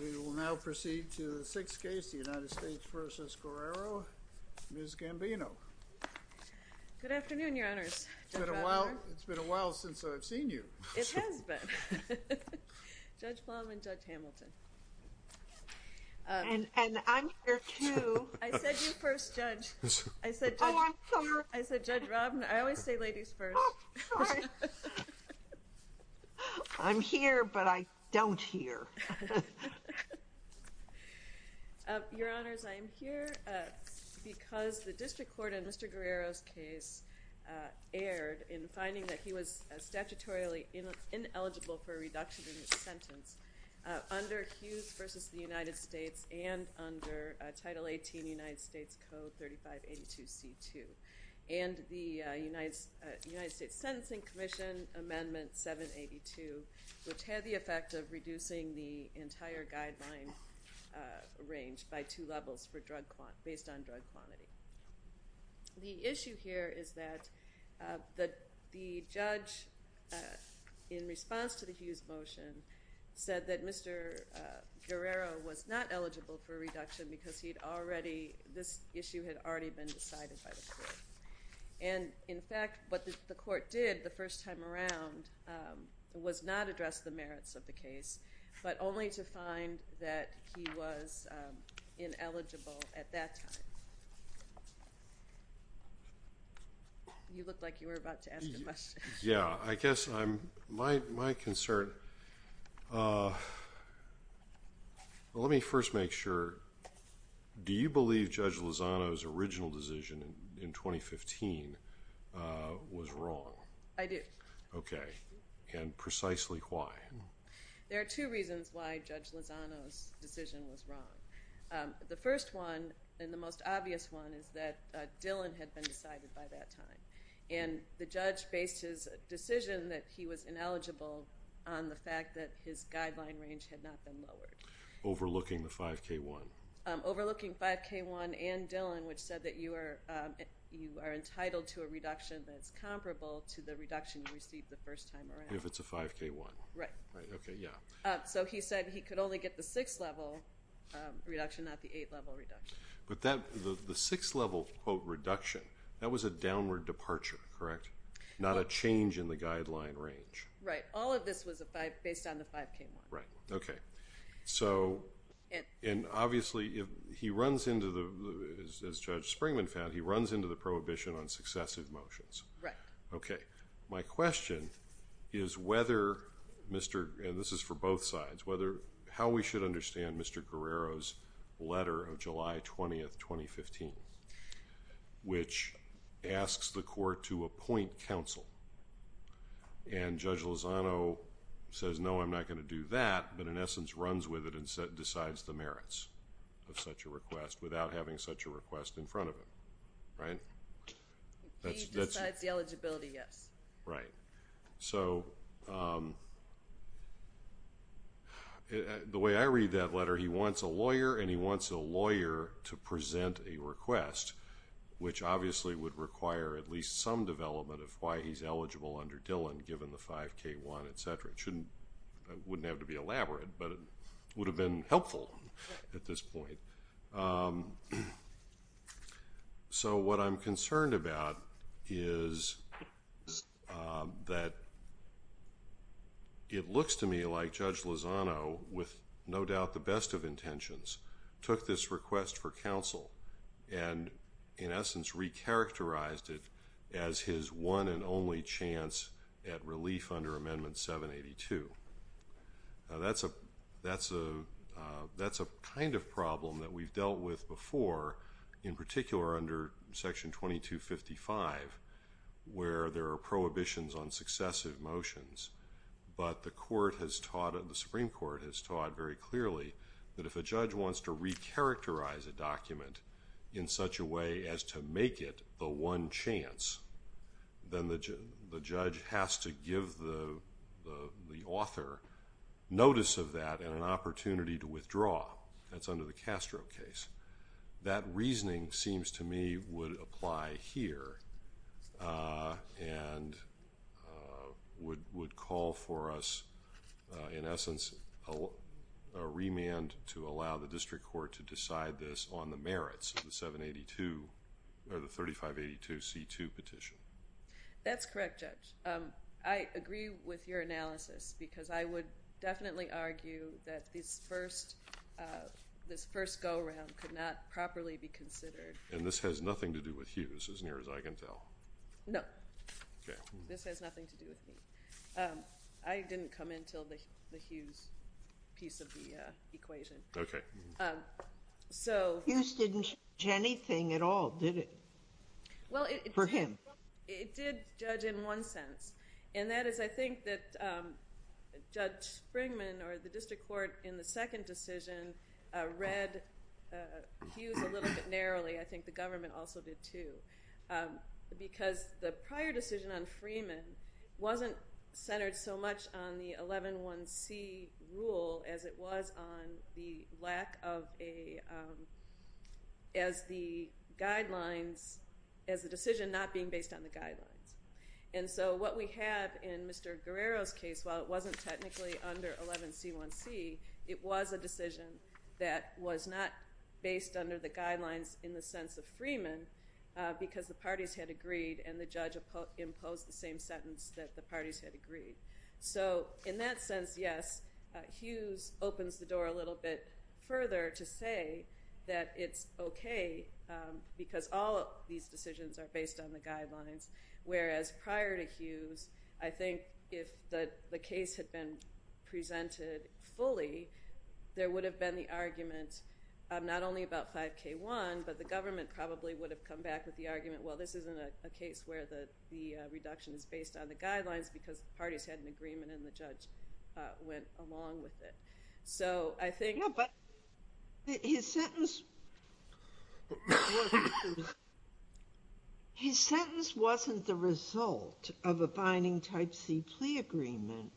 We will now proceed to the sixth case, the United States v. Guerrero, Ms. Gambino. Good afternoon, your honors. It's been a while since I've seen you. It has been. Judge Plum and Judge Hamilton. And I'm here too. I said you first, Judge. Oh, I'm sorry. I said Judge Robin. I always say ladies first. Oh, sorry. I'm here, but I don't hear. Your honors, I am here because the district court in Mr. Guerrero's case erred in finding that he was statutorily ineligible for a reduction in his sentence under Hughes v. the United States and under Title 18, United States Code 3582C2. And the United States Sentencing Commission Amendment 782, which had the effect of reducing the entire guideline range by two levels based on drug quantity. The issue here is that the judge, in response to the Hughes motion, said that Mr. Guerrero was not eligible for a reduction because this issue had already been decided by the court. And, in fact, what the court did the first time around was not address the merits of the case, but only to find that he was ineligible at that time. You looked like you were about to ask a question. Yeah, I guess my concern. Sure. Let me first make sure. Do you believe Judge Lozano's original decision in 2015 was wrong? I do. Okay. And precisely why? There are two reasons why Judge Lozano's decision was wrong. The first one, and the most obvious one, is that Dillon had been decided by that time, and the judge based his decision that he was ineligible on the fact that his guideline range had not been lowered. Overlooking the 5K1. Overlooking 5K1 and Dillon, which said that you are entitled to a reduction that is comparable to the reduction you received the first time around. If it's a 5K1. Right. Okay, yeah. So he said he could only get the six-level reduction, not the eight-level reduction. But the six-level, quote, reduction, that was a downward departure, correct? Not a change in the guideline range. Right. All of this was based on the 5K1. Right. Okay. And obviously he runs into the, as Judge Springman found, he runs into the prohibition on successive motions. Right. Okay. My question is whether, and this is for both sides, how we should understand Mr. Guerrero's letter of July 20th, 2015, which asks the court to appoint counsel. And Judge Lozano says, no, I'm not going to do that, but in essence runs with it and decides the merits of such a request without having such a request in front of him. Right? He decides the eligibility, yes. Right. So the way I read that letter, he wants a lawyer and he wants a lawyer to present a request, which obviously would require at least some development of why he's eligible under Dillon given the 5K1, et cetera. It wouldn't have to be elaborate, but it would have been helpful at this point. So what I'm concerned about is that it looks to me like Judge Lozano, with no doubt the best of intentions, took this request for counsel and in essence recharacterized it as his one and only chance at relief under Amendment 782. That's a kind of problem that we've dealt with before, in particular under Section 2255, where there are prohibitions on successive motions. But the Supreme Court has taught very clearly that if a judge wants to recharacterize a document in such a way as to make it the one chance, then the judge has to give the author notice of that and an opportunity to withdraw. That's under the Castro case. That reasoning seems to me would apply here and would call for us, in essence, a remand to allow the district court to decide this on the merits of the 3582C2 petition. That's correct, Judge. I agree with your analysis because I would definitely argue that this first go-around could not properly be considered. And this has nothing to do with Hughes, as near as I can tell? No. Okay. This has nothing to do with me. I didn't come in until the Hughes piece of the equation. Okay. Hughes didn't judge anything at all, did it? For him. It did judge in one sense, and that is I think that Judge Springman or the district court in the second decision read Hughes a little bit narrowly. I think the government also did, too. Because the prior decision on Freeman wasn't centered so much on the 111C rule as it was on the lack of a as the guidelines, as the decision not being based on the guidelines. And so what we have in Mr. Guerrero's case, while it wasn't technically under 11C1C, it was a decision that was not based under the guidelines in the sense of Freeman because the parties had agreed and the judge imposed the same sentence that the parties had agreed. So in that sense, yes, Hughes opens the door a little bit further to say that it's okay because all of these decisions are based on the guidelines, whereas prior to Hughes, I think if the case had been presented fully, there would have been the argument not only about 5K1, but the government probably would have come back with the argument, well, this isn't a case where the reduction is based on the guidelines because the parties had an agreement and the judge went along with it. So I think his sentence wasn't the result of a binding type C plea agreement.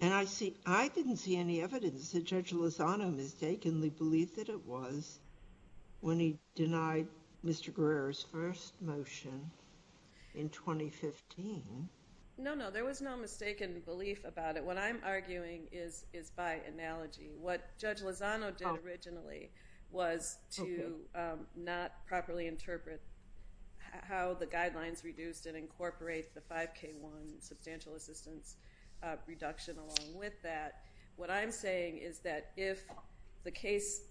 And I didn't see any evidence that Judge Lozano mistakenly believed that it was when he denied Mr. Guerrero's first motion in 2015. No, no, there was no mistaken belief about it. What I'm arguing is by analogy. What Judge Lozano did originally was to not properly interpret how the guidelines reduced and incorporate the 5K1 substantial assistance reduction along with that. What I'm saying is that if the case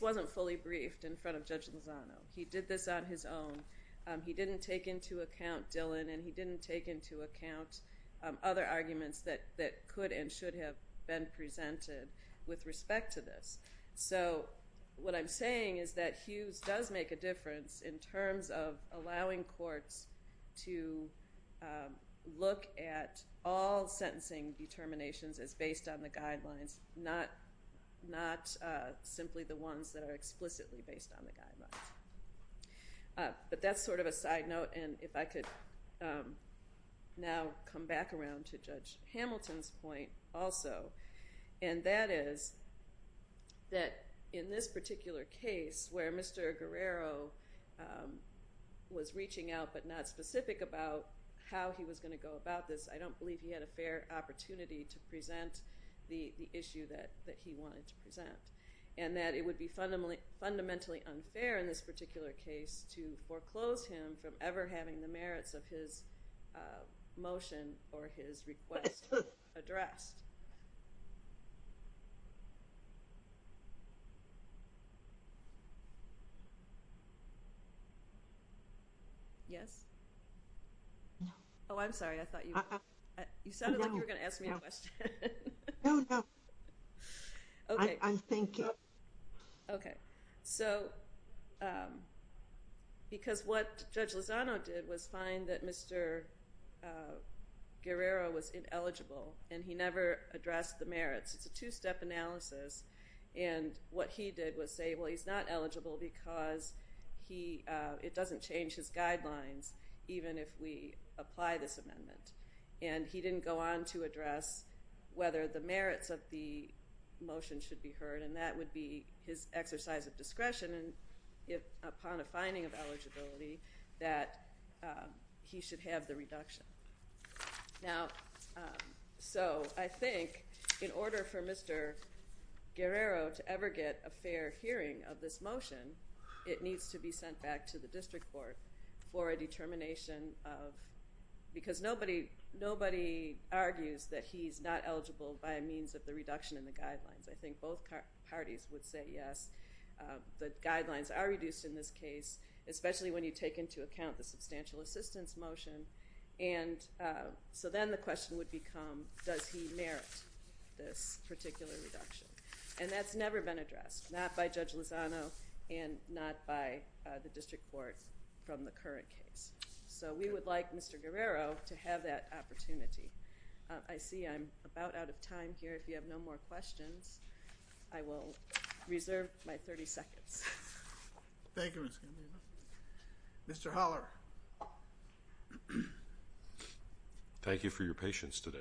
wasn't fully briefed in front of Judge Lozano, he did this on his own, he didn't take into account Dillon, and he didn't take into account other arguments that could and should have been presented with respect to this. So what I'm saying is that Hughes does make a difference in terms of allowing courts to look at all sentencing determinations as based on the guidelines, not simply the ones that are explicitly based on the guidelines. But that's sort of a side note. And if I could now come back around to Judge Hamilton's point also. And that is that in this particular case where Mr. Guerrero was reaching out but not specific about how he was going to go about this, I don't believe he had a fair opportunity to present the issue that he wanted to present. And that it would be fundamentally unfair in this particular case to foreclose him from ever having the merits of his motion or his request addressed. Yes? Oh, I'm sorry. You sounded like you were going to ask me a question. No, no. I'm thinking. Okay. So because what Judge Lozano did was find that Mr. Guerrero was ineligible and he never addressed the merits. It's a two-step analysis. And what he did was say, well, he's not eligible because it doesn't change his guidelines, even if we apply this amendment. And he didn't go on to address whether the merits of the motion should be heard, and that would be his exercise of discretion upon a finding of eligibility that he should have the reduction. Now, so I think in order for Mr. Guerrero to ever get a fair hearing of this motion, it needs to be sent back to the district court for a determination of because nobody argues that he's not eligible by means of the reduction in the guidelines. I think both parties would say yes. The guidelines are reduced in this case, especially when you take into account the substantial assistance motion. And so then the question would become, does he merit this particular reduction? And that's never been addressed, not by Judge Lozano and not by the district court from the current case. So we would like Mr. Guerrero to have that opportunity. I see I'm about out of time here. If you have no more questions, I will reserve my 30 seconds. Thank you, Ms. Gandino. Mr. Holler. Thank you for your patience today.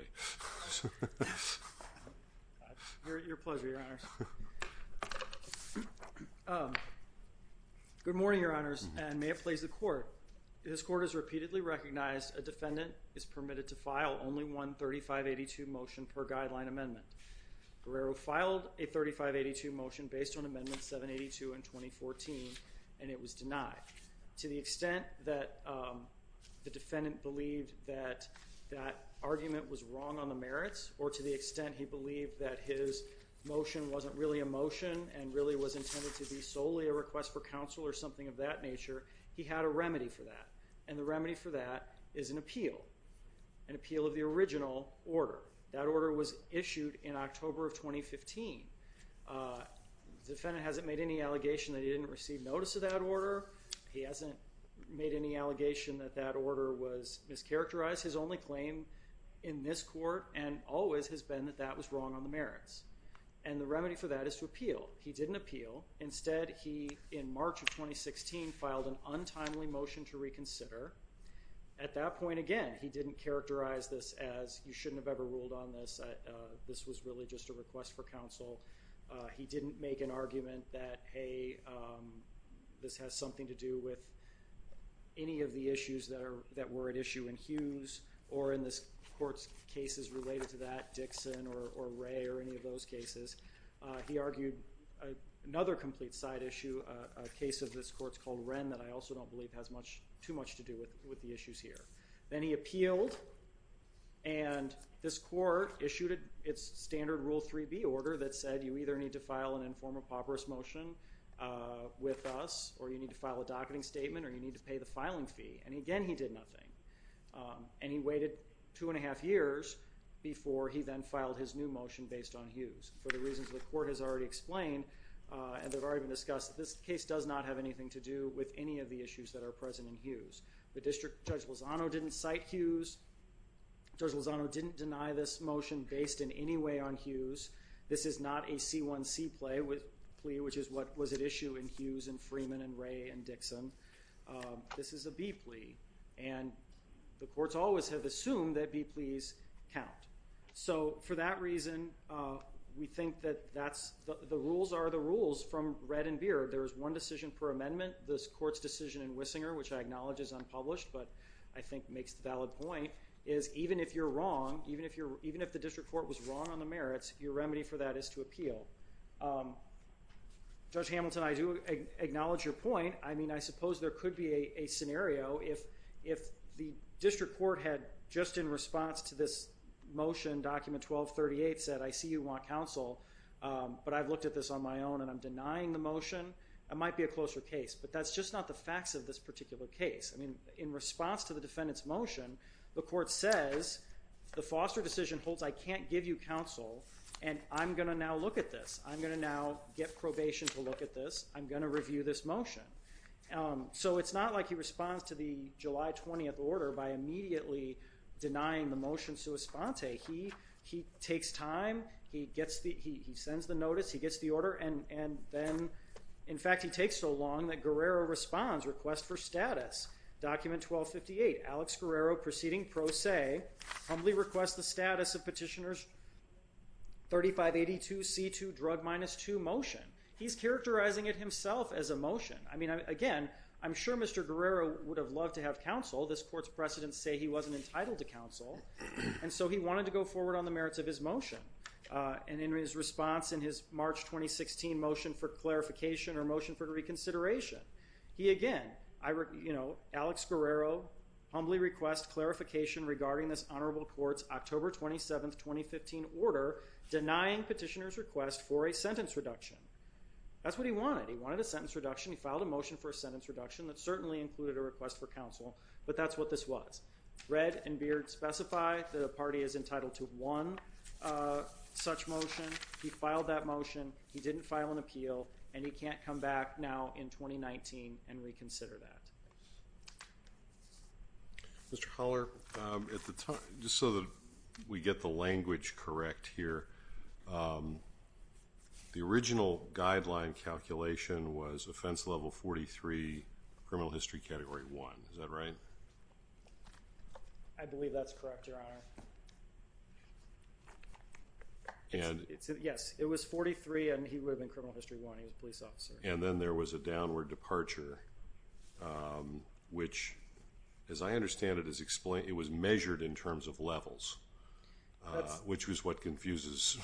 Your pleasure, Your Honors. Good morning, Your Honors, and may it please the Court. This Court has repeatedly recognized a defendant is permitted to file only one 3582 motion per guideline amendment. Guerrero filed a 3582 motion based on Amendment 782 in 2014, and it was denied. To the extent that the defendant believed that that argument was wrong on the merits, or to the extent he believed that his motion wasn't really a motion and really was intended to be solely a request for counsel or something of that nature, he had a remedy for that. And the remedy for that is an appeal, an appeal of the original order. That order was issued in October of 2015. The defendant hasn't made any allegation that he didn't receive notice of that order. He hasn't made any allegation that that order was mischaracterized. His only claim in this Court and always has been that that was wrong on the merits. And the remedy for that is to appeal. He didn't appeal. Instead, he, in March of 2016, filed an untimely motion to reconsider. At that point, again, he didn't characterize this as, you shouldn't have ever ruled on this, this was really just a request for counsel. He didn't make an argument that, hey, this has something to do with any of the issues that were at issue in Hughes or in this Court's cases related to that, Dixon or Ray or any of those cases. He argued another complete side issue, a case of this Court's called Wren, that I also don't believe has too much to do with the issues here. Then he appealed, and this Court issued its standard Rule 3B order that said, you either need to file an informal pauperous motion with us or you need to file a docketing statement or you need to pay the filing fee. And, again, he did nothing. And he waited two and a half years before he then filed his new motion based on Hughes for the reasons the Court has already explained and they've already been discussed. This case does not have anything to do with any of the issues that are present in Hughes. The District Judge Lozano didn't cite Hughes. Judge Lozano didn't deny this motion based in any way on Hughes. This is not a C1C plea, which is what was at issue in Hughes and Freeman and Ray and Dixon. This is a B plea, and the Courts always have assumed that B pleas count. So for that reason, we think that the rules are the rules from red and beard. There is one decision per amendment. This Court's decision in Wissinger, which I acknowledge is unpublished but I think makes the valid point, is even if you're wrong, even if the District Court was wrong on the merits, your remedy for that is to appeal. Judge Hamilton, I do acknowledge your point. I mean, I suppose there could be a scenario if the District Court had just in response to this motion, Document 1238, said, I see you want counsel, but I've looked at this on my own and I'm denying the motion. It might be a closer case, but that's just not the facts of this particular case. I mean, in response to the defendant's motion, the Court says, the foster decision holds I can't give you counsel, and I'm going to now look at this. I'm going to now get probation to look at this. I'm going to review this motion. So it's not like he responds to the July 20th order by immediately denying the motion sua sponte. He takes time. He sends the notice. He gets the order, and then, in fact, he takes so long that Guerrero responds, requests for status. Document 1258, Alex Guerrero proceeding pro se, humbly requests the status of petitioner's 3582C2 drug minus 2 motion. He's characterizing it himself as a motion. I mean, again, I'm sure Mr. Guerrero would have loved to have counsel. This Court's precedents say he wasn't entitled to counsel, and so he wanted to go forward on the merits of his motion. And in his response in his March 2016 motion for clarification or motion for reconsideration, he again, you know, Alex Guerrero humbly requests clarification regarding this honorable court's October 27, 2015 order denying petitioner's request for a sentence reduction. That's what he wanted. He wanted a sentence reduction. He filed a motion for a sentence reduction that certainly included a request for counsel, but that's what this was. Redd and Beard specify that a party is entitled to one such motion. He filed that motion. He didn't file an appeal, and he can't come back now in 2019 and reconsider that. Mr. Holler, just so that we get the language correct here, the original guideline calculation was offense level 43, criminal history category 1. Is that right? I believe that's correct, Your Honor. Yes, it was 43, and he would have been criminal history 1. He was a police officer. And then there was a downward departure, which, as I understand it, it was measured in terms of levels, which was what confuses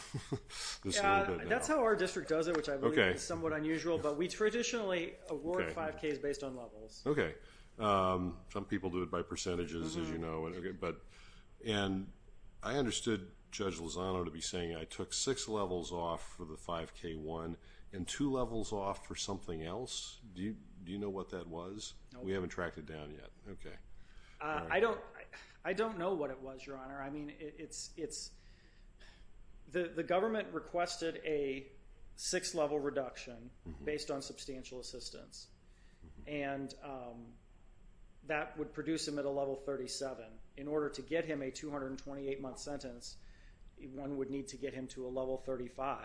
this a little bit. That's how our district does it, which I believe is somewhat unusual, but we traditionally award 5Ks based on levels. Okay. Some people do it by percentages, as you know. And I understood Judge Lozano to be saying, I took six levels off for the 5K1 and two levels off for something else. Do you know what that was? No. We haven't tracked it down yet. Okay. I don't know what it was, Your Honor. The government requested a six-level reduction based on substantial assistance, and that would produce him at a level 37. In order to get him a 228-month sentence, one would need to get him to a level 35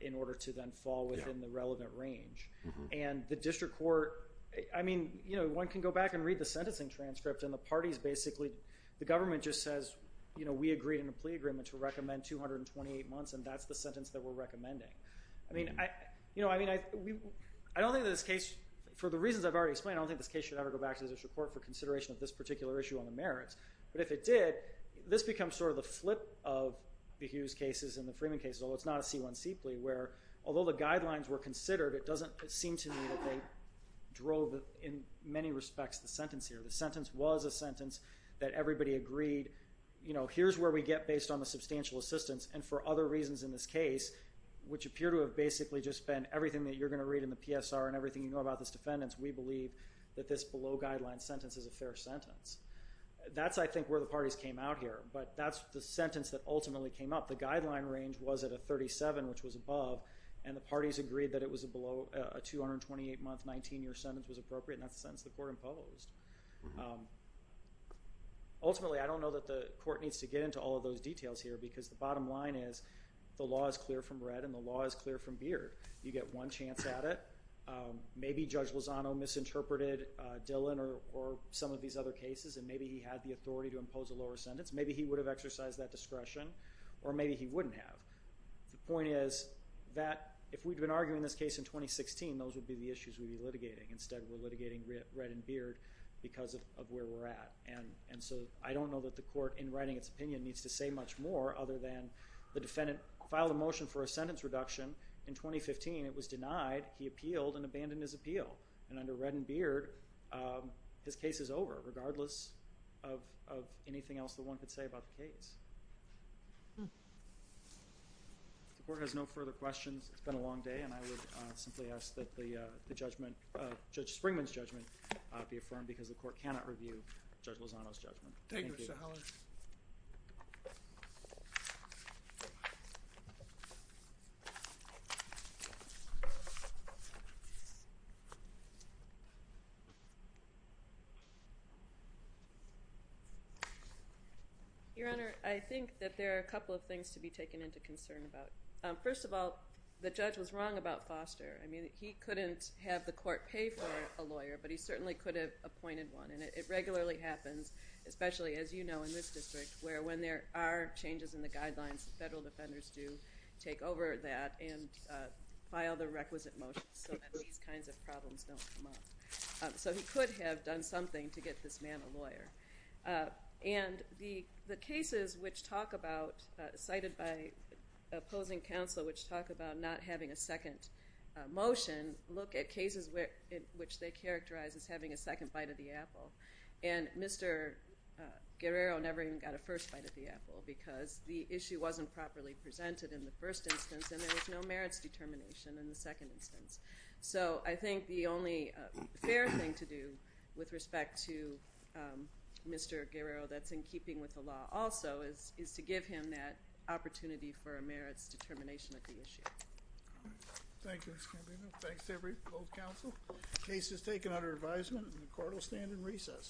in order to then fall within the relevant range. And the district court, I mean, you know, one can go back and read the sentencing transcript, and the parties basically, the government just says, you know, we agreed in a plea agreement to recommend 228 months, and that's the sentence that we're recommending. I mean, you know, I don't think that this case, for the reasons I've already explained, I don't think this case should ever go back to the district court for consideration of this particular issue on the merits. But if it did, this becomes sort of the flip of the Hughes cases and the Freeman cases, although it's not a C1 seeply, where although the guidelines were considered, it doesn't seem to me that they drove, in many respects, the sentence here. The sentence was a sentence that everybody agreed, you know, here's where we get based on the substantial assistance, and for other reasons in this case, which appear to have basically just been everything that you're going to read in the PSR and everything you know about this defendant, we believe that this below-guideline sentence is a fair sentence. That's, I think, where the parties came out here, but that's the sentence that ultimately came up. The guideline range was at a 37, which was above, and the parties agreed that a 228-month, 19-year sentence was appropriate, and that's the sentence the court imposed. Ultimately, I don't know that the court needs to get into all of those details here because the bottom line is the law is clear from red, and the law is clear from beard. You get one chance at it. Maybe Judge Lozano misinterpreted Dillon or some of these other cases, and maybe he had the authority to impose a lower sentence. Maybe he would have exercised that discretion, or maybe he wouldn't have. The point is that if we'd been arguing this case in 2016, those would be the issues we'd be litigating. Instead, we're litigating red and beard because of where we're at. And so I don't know that the court, in writing its opinion, needs to say much more other than the defendant filed a motion for a sentence reduction in 2015. It was denied. He appealed and abandoned his appeal. And under red and beard, his case is over, regardless of anything else that one could say about the case. The court has no further questions. It's been a long day, and I would simply ask that the judgment, Judge Springman's judgment, be affirmed because the court cannot review Judge Lozano's judgment. Thank you. Thank you. Your Honor, I think that there are a couple of things to be taken into concern about. First of all, the judge was wrong about Foster. I mean, he couldn't have the court pay for a lawyer, but he certainly could have appointed one. And it regularly happens, especially, as you know, in this district, where when there are changes in the guidelines, federal defenders do take over that and file the requisite motions so that these kinds of problems don't come up. So he could have done something to get this man a lawyer. And the cases which talk about, cited by opposing counsel, which talk about not having a second motion, look at cases in which they characterize as having a second bite of the apple. And Mr. Guerrero never even got a first bite of the apple because the issue wasn't properly presented in the first instance, and there was no merits determination in the second instance. So I think the only fair thing to do with respect to Mr. Guerrero that's in keeping with the law also is to give him that opportunity for a merits determination of the issue. Thank you, Mr. Campino. Thanks to both counsel. Case is taken under advisement and the court will stand in recess.